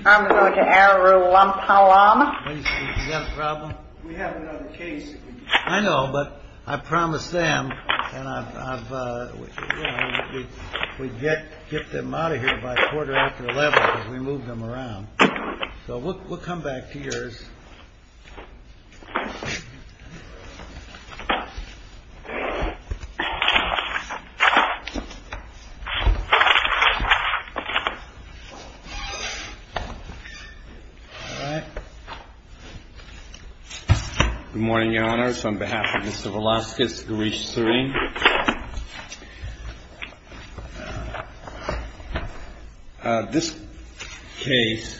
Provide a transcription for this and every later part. I'm going to Arulampalam. We have another case. I know, but I promised them, and we'd get them out of here by quarter after eleven because we moved them around. So we'll come back to yours. Good morning, Your Honor. It's on behalf of Mr. Velasquez. This case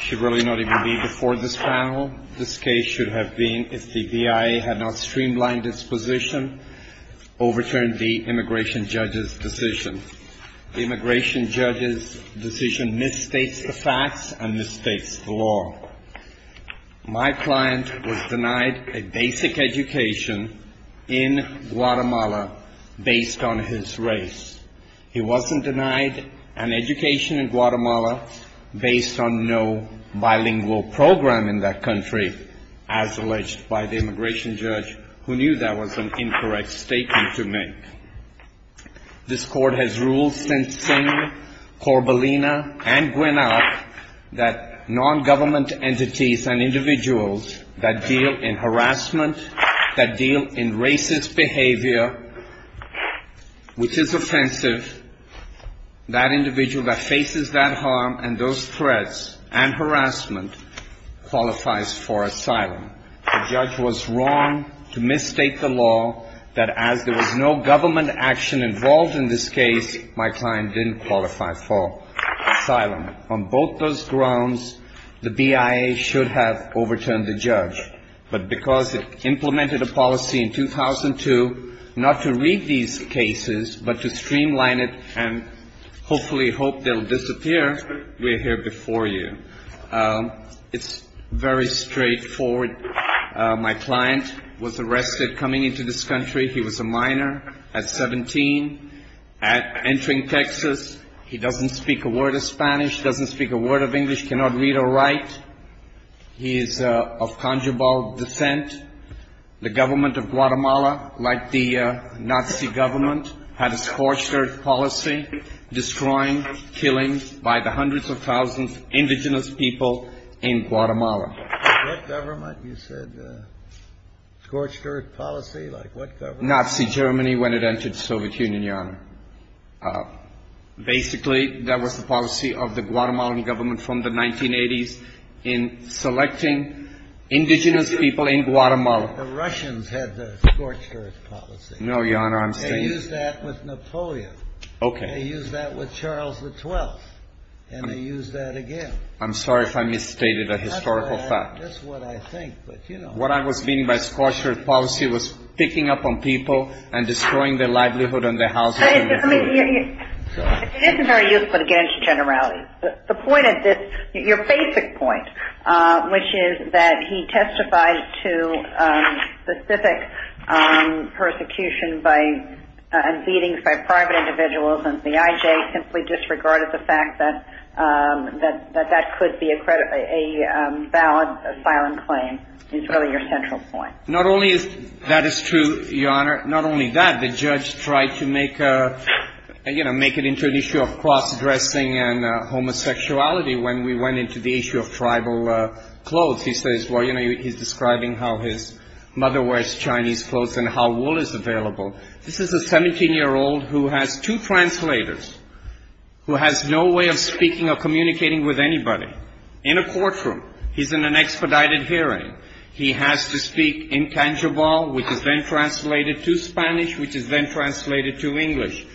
should really not even be before this panel. This case should have been, if the BIA had not streamlined its position, overturned the immigration judge's decision. The immigration judge's decision misstates the facts and misstates the law. My client was denied a basic education in Guatemala based on his race. He wasn't denied an education in Guatemala based on no bilingual program in that country, as alleged by the immigration judge, who knew that was an incorrect statement to make. This court has ruled since then, Corbelina and Guinoc, that non-government entities and individuals that deal in harassment, that deal in racist behavior, which is offensive, that individual that faces that harm and those threats and harassment qualifies for asylum. The judge was wrong to misstate the law that as there was no government action involved in this case, my client didn't qualify for asylum. On both those grounds, the BIA should have overturned the judge. But because it implemented a policy in 2002 not to read these cases but to streamline it and hopefully hope they'll disappear, we're here before you. It's very straightforward. My client was arrested coming into this country. He was a minor at 17. Entering Texas, he doesn't speak a word of Spanish, doesn't speak a word of English, cannot read or write. He is of Canjabal descent. The government of Guatemala, like the Nazi government, had a scorched earth policy, destroying, killing by the hundreds of thousands of indigenous people in Guatemala. What government? You said scorched earth policy? Like what government? Nazi Germany when it entered the Soviet Union, Your Honor. Basically, that was the policy of the Guatemalan government from the 1980s in selecting indigenous people in Guatemala. The Russians had the scorched earth policy. No, Your Honor, I'm saying... They used that with Napoleon. Okay. They used that with Charles XII. And they used that again. I'm sorry if I misstated a historical fact. That's what I think, but you know... What I was meaning by scorched earth policy was picking up on people and destroying their livelihood and their household. It isn't very useful to get into generality. The point of this, your basic point, which is that he testified to specific persecution and beatings by private individuals, and the IJ simply disregarded the fact that that could be a valid asylum claim is really your central point. Not only is that true, Your Honor, not only that, the judge tried to make it into an issue of cross-dressing and homosexuality when we went into the issue of tribal clothes. He says, well, you know, he's describing how his mother wears Chinese clothes and how wool is available. This is a 17-year-old who has two translators, who has no way of speaking or communicating with anybody. In a courtroom, he's in an expedited hearing. He has to speak in tangible, which is then translated to Spanish, which is then translated to English.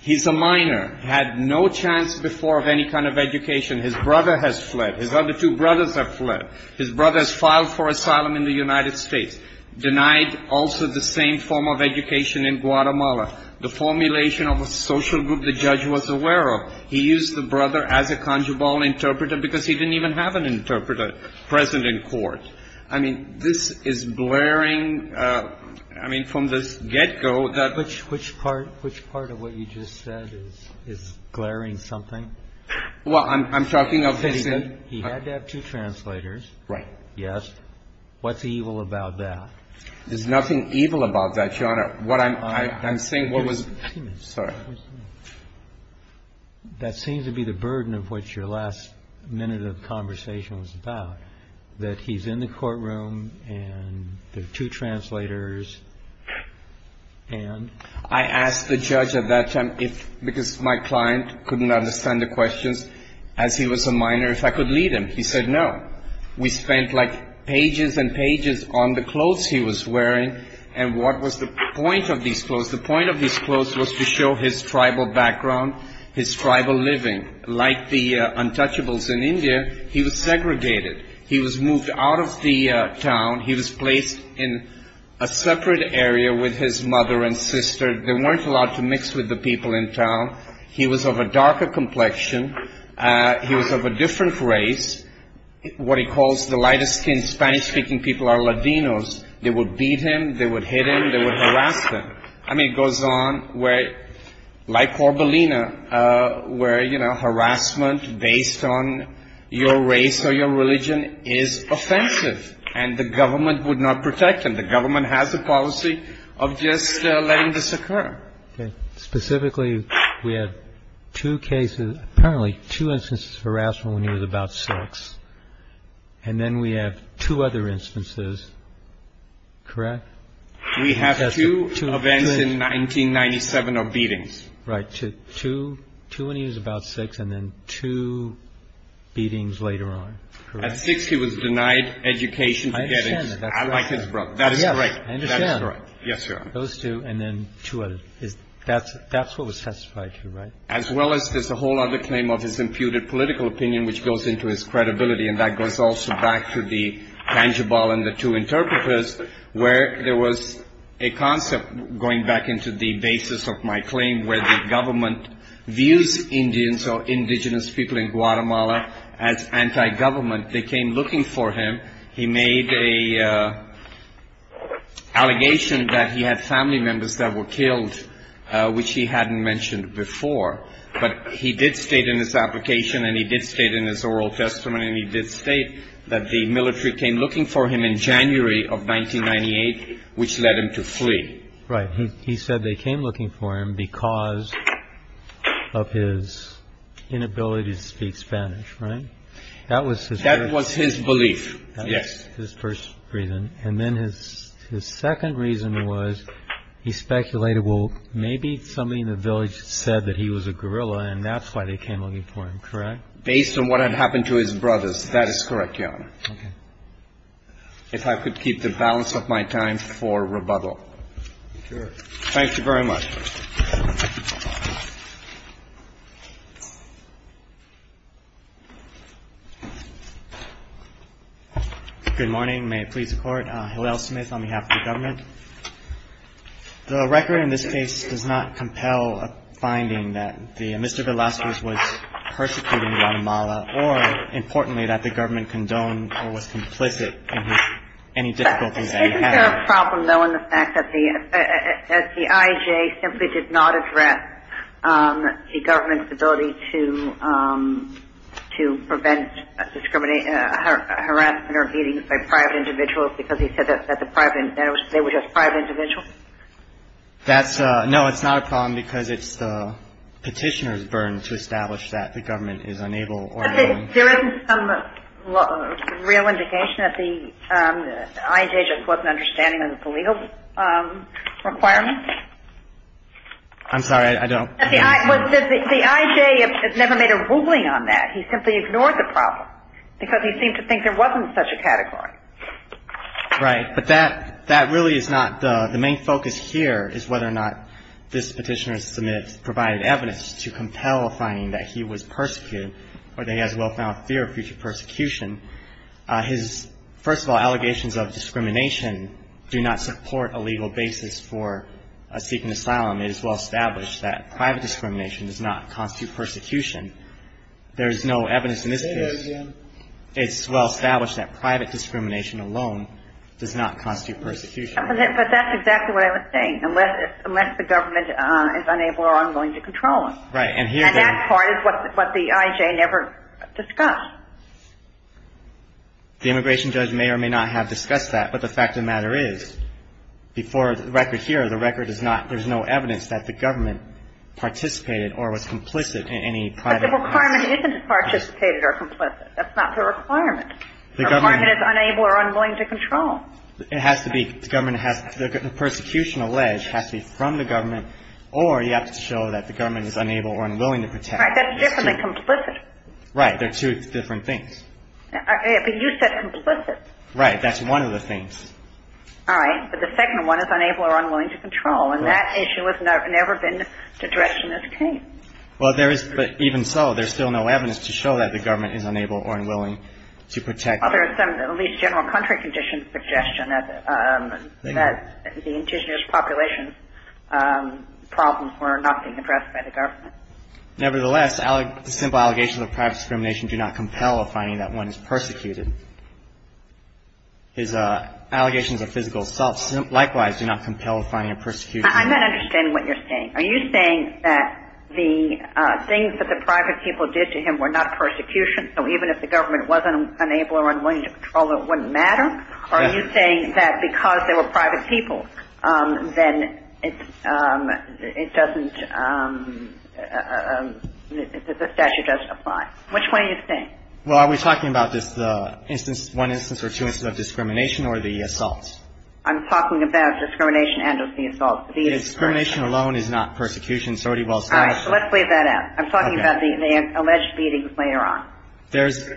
He's a minor, had no chance before of any kind of education. His brother has fled. His other two brothers have fled. His brother has filed for asylum in the United States, denied also the same form of education in Guatemala. The formulation of a social group the judge was aware of. He used the brother as a conjugal interpreter because he didn't even have an interpreter present in court. I mean, this is blaring. I mean, from the get go. Which which part which part of what you just said is glaring something? Well, I'm talking of he had to have two translators, right? Yes. What's evil about that? There's nothing evil about that, Your Honor. What I'm saying was that seems to be the burden of what your last minute of conversation was about, that he's in the courtroom and there are two translators. And I asked the judge at that time if because my client couldn't understand the questions as he was a minor, if I could lead him. He said, no, we spent like pages and pages on the clothes he was wearing. And what was the point of these clothes? The point of these clothes was to show his tribal background, his tribal living like the untouchables in India. He was segregated. He was moved out of the town. He was placed in a separate area with his mother and sister. They weren't allowed to mix with the people in town. He was of a darker complexion. He was of a different race. What he calls the lighter skinned Spanish speaking people are Latinos. They would beat him. They would hit him. They would harass him. I mean, it goes on where like Corbelina, where, you know, harassment based on your race or your religion is offensive. And the government would not protect him. The government has a policy of just letting this occur. Specifically, we have two cases, apparently two instances of harassment when he was about six. And then we have two other instances. Correct. We have two events in 1997 of beatings. Right. Two, two when he was about six and then two beatings later on. At six, he was denied education. I like his brother. That is right. Yes, sir. Those two and then two. That's that's what was testified to. As well as there's a whole other claim of his imputed political opinion, which goes into his credibility. And that goes also back to the tangible and the two interpreters where there was a concept going back into the basis of my claim where the government views Indians or indigenous people in Guatemala as anti-government. They came looking for him. He made a allegation that he had family members that were killed, which he hadn't mentioned before. But he did state in his application and he did state in his oral testimony and he did state that the military came looking for him in January of 1998, which led him to flee. Right. He said they came looking for him because of his inability to speak Spanish. Right. That was that was his belief. Yes. His first reason. And then his his second reason was he speculated, well, maybe somebody in the village said that he was a guerrilla and that's why they came looking for him. Correct. Based on what had happened to his brothers. That is correct. I'm going to ask you, Your Honor, if I could keep the balance of my time for rebuttal. Thank you very much. Good morning. May it please the Court. Hillel Smith on behalf of the government. The record in this case does not compel a finding that Mr. Velazquez was persecuting Guatemala or, importantly, that the government condoned or was complicit in any difficulties that he had. Isn't there a problem, though, in the fact that the IJ simply did not address the government's ability to to prevent discrimination, harassment or beatings by private individuals because he said that the private they were just private individuals? That's no, it's not a problem because it's the petitioner's burden to establish that the government is unable or. There isn't some real indication that the IJ just wasn't understanding of the legal requirements. I'm sorry, I don't. The IJ has never made a ruling on that. He simply ignored the problem because he seemed to think there wasn't such a category. Right. But that that really is not the main focus here is whether or not this petitioner's submit provided evidence to compel a finding that he was persecuted or that he has well-found fear of future persecution. His first of all, allegations of discrimination do not support a legal basis for seeking asylum. It is well-established that private discrimination does not constitute persecution. There is no evidence in this case. It's well-established that private discrimination alone does not constitute persecution. But that's exactly what I was saying. Unless the government is unable or unwilling to control him. Right. And here. And that part is what the IJ never discussed. The immigration judge may or may not have discussed that. But the fact of the matter is, before the record here, the record is not. There's no evidence that the government participated or was complicit in any private. But the requirement isn't participated or complicit. That's not the requirement. The government is unable or unwilling to control. It has to be. The government has. The persecution alleged has to be from the government. Or you have to show that the government is unable or unwilling to protect. Right. That's different than complicit. Right. They're two different things. But you said complicit. Right. That's one of the things. All right. But the second one is unable or unwilling to control. And that issue has never been addressed in this case. Well, there is. But even so, there's still no evidence to show that the government is unable or unwilling to protect. Well, there is some at least general country conditions suggestion that the indigenous population problems were not being addressed by the government. Nevertheless, simple allegations of private discrimination do not compel a finding that one is persecuted. His allegations of physical assault likewise do not compel a finding of persecution. I'm not understanding what you're saying. Are you saying that the things that the private people did to him were not persecution? So even if the government wasn't unable or unwilling to control, it wouldn't matter? Are you saying that because they were private people, then it doesn't the statute doesn't apply? Which one are you saying? Well, are we talking about just the instance, one instance or two instances of discrimination or the assault? I'm talking about discrimination and of the assault. Discrimination alone is not persecution. All right. So let's leave that out. I'm talking about the alleged beating later on. There's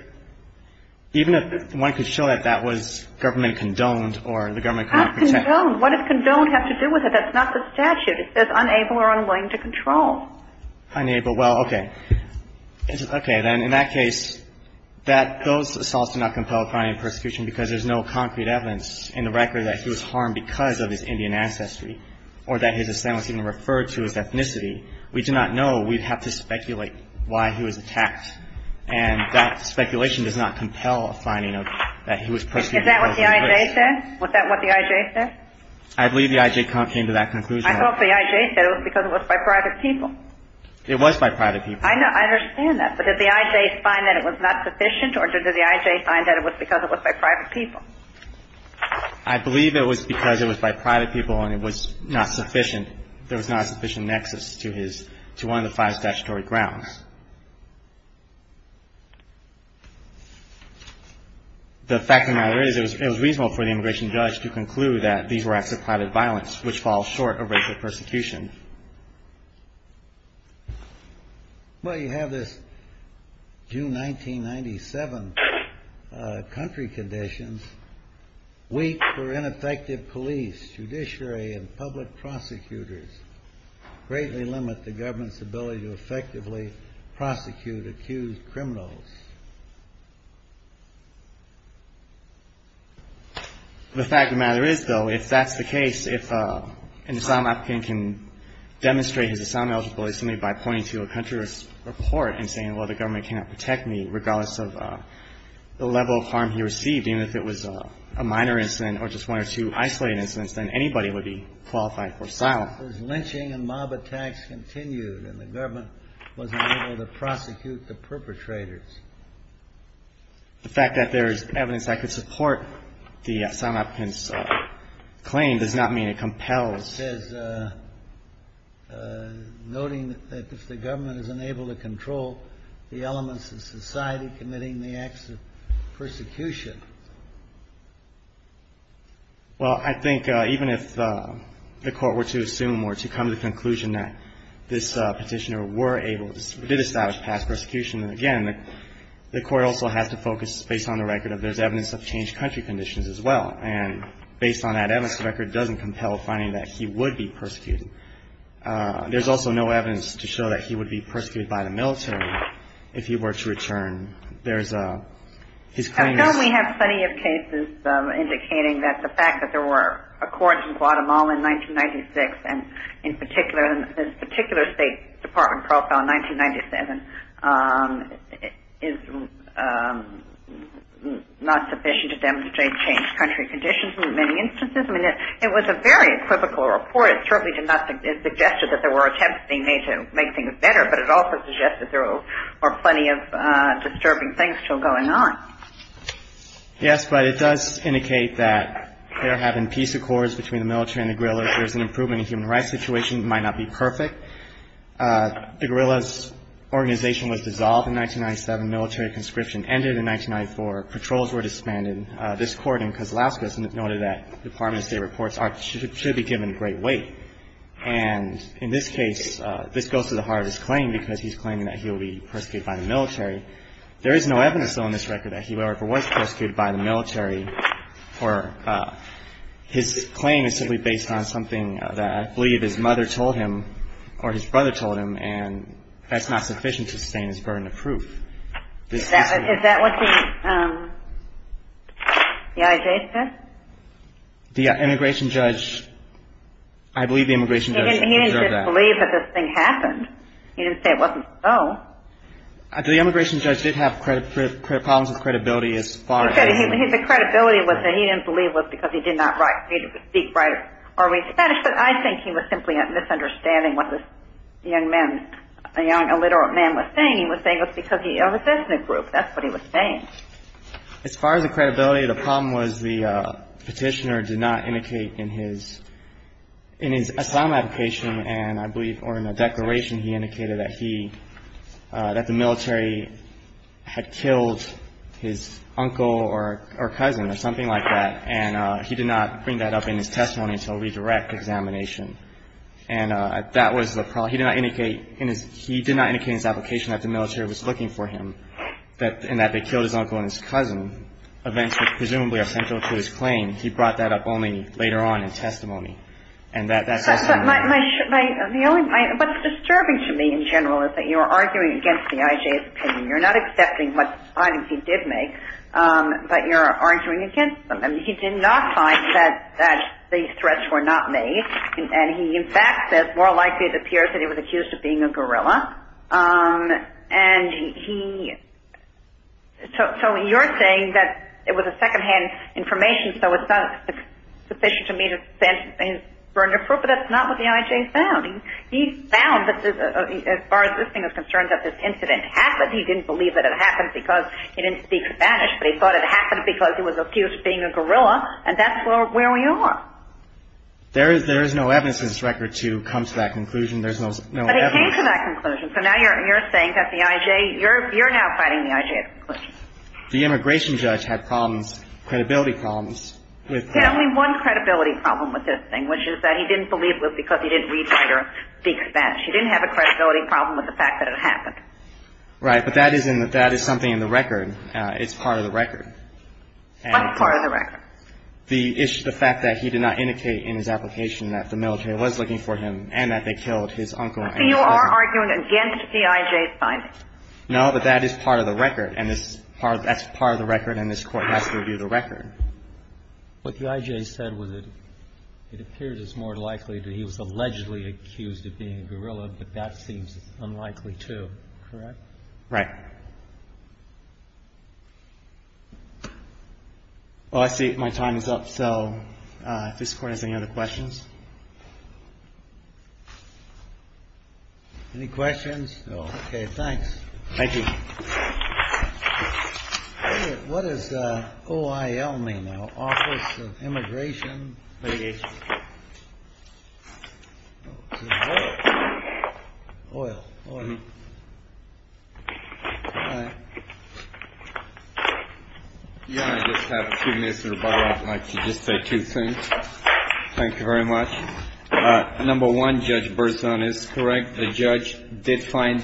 even if one could show that that was government condoned or the government cannot protect. That's condoned. What does condoned have to do with it? That's not the statute. It says unable or unwilling to control. Unable. Well, okay. Okay. Then in that case, that those assaults do not compel a finding of persecution because there's no concrete evidence in the record that he was harmed because of his Indian ancestry or that his assent was even referred to as ethnicity. We do not know. We'd have to speculate why he was attacked. And that speculation does not compel a finding of that he was persecuted because of his race. Is that what the IJ said? Was that what the IJ said? I believe the IJ came to that conclusion. I thought the IJ said it was because it was by private people. It was by private people. I know. I understand that. But did the IJ find that it was not sufficient or did the IJ find that it was because it was by private people? I believe it was because it was by private people and it was not sufficient. There was not a sufficient nexus to one of the five statutory grounds. The fact of the matter is it was reasonable for the immigration judge to conclude that these were acts of private violence, which falls short of racial persecution. Well, you have this June 1997 country conditions. Weak or ineffective police, judiciary and public prosecutors greatly limit the government's ability to effectively prosecute accused criminals. The fact of the matter is, though, if that's the case, if an asylum applicant can demonstrate his asylum eligibility by pointing to a country's report and saying, well, the government cannot protect me regardless of the level of harm he received, even if it was a minor incident or just one or two isolated incidents, then anybody would be qualified for asylum. As lynching and mob attacks continued and the government wasn't able to prosecute the perpetrators. The fact that there is evidence that could support the asylum applicant's claim does not mean it compels. It says, noting that if the government is unable to control the elements of society committing the acts of persecution. Well, I think even if the court were to assume or to come to the conclusion that this Petitioner were able to establish past persecution, again, the court also has to focus based on the record of there's evidence of changed country conditions as well, and based on that evidence, the record doesn't compel finding that he would be persecuted. There's also no evidence to show that he would be persecuted by the military if he were to return. I know we have plenty of cases indicating that the fact that there were accords in Guatemala in 1996, and in particular, this particular State Department profile in 1997, is not sufficient to demonstrate changed country conditions in many instances. I mean, it was a very typical report. It certainly did not suggest that there were attempts being made to make things better, but it also suggested there were plenty of disturbing things still going on. Yes, but it does indicate that there have been peace accords between the military and the guerrillas. There's an improvement in human rights situation that might not be perfect. The guerrillas' organization was dissolved in 1997. The military conscription ended in 1994. Patrols were disbanded. This court in Kozlowskis noted that Department of State reports should be given great weight. And in this case, this goes to the heart of his claim, because he's claiming that he will be persecuted by the military. There is no evidence, though, in this record that he ever was persecuted by the military. His claim is simply based on something that I believe his mother told him, or his brother told him, and that's not sufficient to sustain his burden of proof. Is that what the IJ said? The immigration judge, I believe the immigration judge observed that. He didn't just believe that this thing happened. He didn't say it wasn't so. The immigration judge did have problems with credibility as far as His credibility was that he didn't believe it was because he did not speak or read Spanish, but I think he was simply misunderstanding what this young man, a young illiterate man was saying. He was saying it was because he was in a group. That's what he was saying. As far as the credibility, the problem was the petitioner did not indicate in his asylum application and I believe or in the declaration he indicated that he that the military had killed his uncle or cousin or something like that. And he did not bring that up in his testimony until redirect examination. And that was the problem. He did not indicate in his he did not indicate his application that the military was looking for him and that they killed his uncle and his cousin. Events presumably are central to his claim. And he brought that up only later on in testimony. What's disturbing to me in general is that you're arguing against the IJ's opinion. You're not accepting what arguments he did make, but you're arguing against them. He did not find that these threats were not made. And he in fact says more likely it appears that he was accused of being a guerrilla. And he so you're saying that it was a secondhand information. So it's not sufficient to me to say he's burned a proof. But that's not what the IJ found. He found that as far as this thing is concerned that this incident happened. He didn't believe that it happened because he didn't speak Spanish, but he thought it happened because he was accused of being a guerrilla. And that's where we are. There is there is no evidence in this record to come to that conclusion. There's no evidence. But he came to that conclusion. So now you're saying that the IJ you're you're now fighting the IJ's conclusion. The immigration judge had problems credibility problems. He had only one credibility problem with this thing, which is that he didn't believe it was because he didn't read or speak Spanish. He didn't have a credibility problem with the fact that it happened. Right. But that isn't that is something in the record. It's part of the record. What's part of the record? The issue is the fact that he did not indicate in his application that the military was looking for him and that they killed his uncle and his cousin. So you are arguing against the IJ's finding? No, but that is part of the record. And this part that's part of the record and this Court has to review the record. What the IJ said was that it appears it's more likely that he was allegedly accused of being a guerrilla. But that seems unlikely to correct. Right. Well, I see my time is up. So if this court has any other questions. Any questions? OK, thanks. Thank you. What is the O.I.L. mean? Office of Immigration. O.I.L. I just have a few minutes of rebuttal. I'd like to just say two things. Thank you very much. Number one, Judge Berzon is correct. The judge did find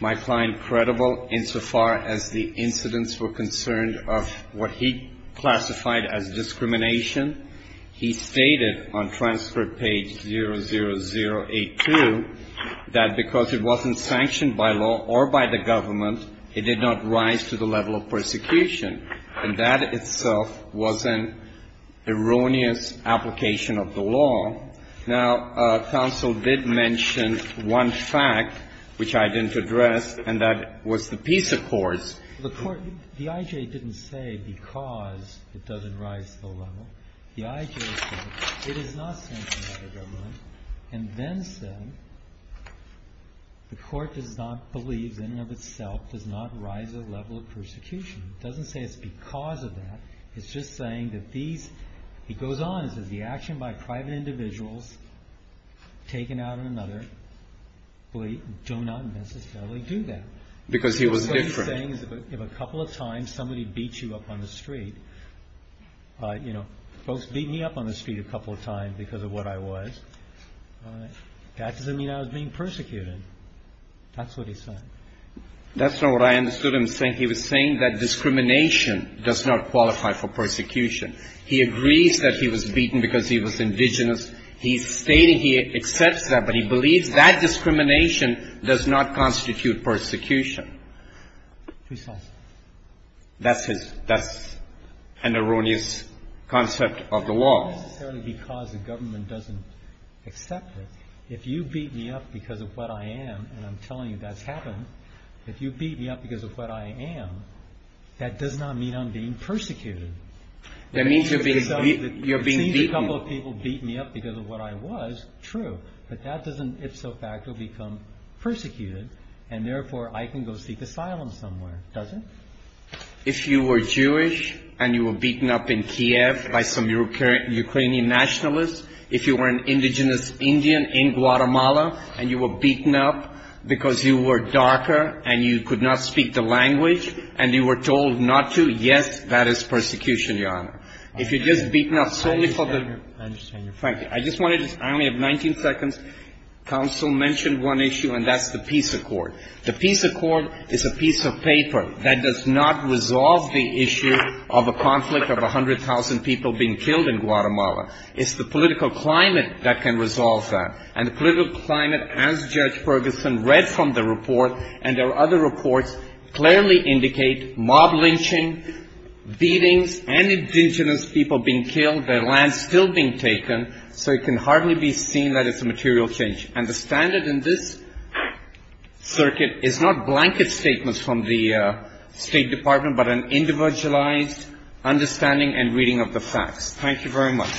my client credible insofar as the incidents were concerned of what he classified as discrimination. He stated on transfer page 00082 that because it wasn't sanctioned by law or by the government, it did not rise to the level of persecution. And that itself was an erroneous application of the law. Now, counsel did mention one fact which I didn't address, and that was the peace accords. The court, the IJ didn't say because it doesn't rise to the level. The IJ said it is not sanctioned by the government, and then said the court does not believe that in and of itself does not rise to the level of persecution. It doesn't say it's because of that. It's just saying that these, he goes on and says the action by private individuals taken out on another do not necessarily do that. Because he was different. What he's saying is if a couple of times somebody beat you up on the street, you know, folks beat me up on the street a couple of times because of what I was, that doesn't mean I was being persecuted. That's what he said. That's not what I understood him saying. He was saying that discrimination does not qualify for persecution. He agrees that he was beaten because he was indigenous. He's stating he accepts that, but he believes that discrimination does not constitute persecution. That's his, that's an erroneous concept of the law. Because the government doesn't accept it. If you beat me up because of what I am, and I'm telling you that's happened. If you beat me up because of what I am, that does not mean I'm being persecuted. That means you're being beaten. A couple of people beat me up because of what I was. True. But that doesn't ifso facto become persecuted, and therefore I can go seek asylum somewhere, does it? If you were Jewish and you were beaten up in Kiev by some Ukrainian nationalists, if you were an indigenous Indian in Guatemala and you were beaten up because you were darker and you could not speak the language and you were told not to, yes, that is persecution, Your Honor. If you're just beaten up solely for the, frankly, I just want to, I only have 19 seconds. Counsel mentioned one issue, and that's the peace accord. The peace accord is a piece of paper that does not resolve the issue of a conflict of 100,000 people being killed in Guatemala. It's the political climate that can resolve that. And the political climate, as Judge Ferguson read from the report, and there are other reports, clearly indicate mob lynching, beatings, unindigenous people being killed, their land still being taken, so it can hardly be seen that it's a material change. And the standard in this circuit is not blanket statements from the State Department, but an individualized understanding and reading of the facts. Thank you very much.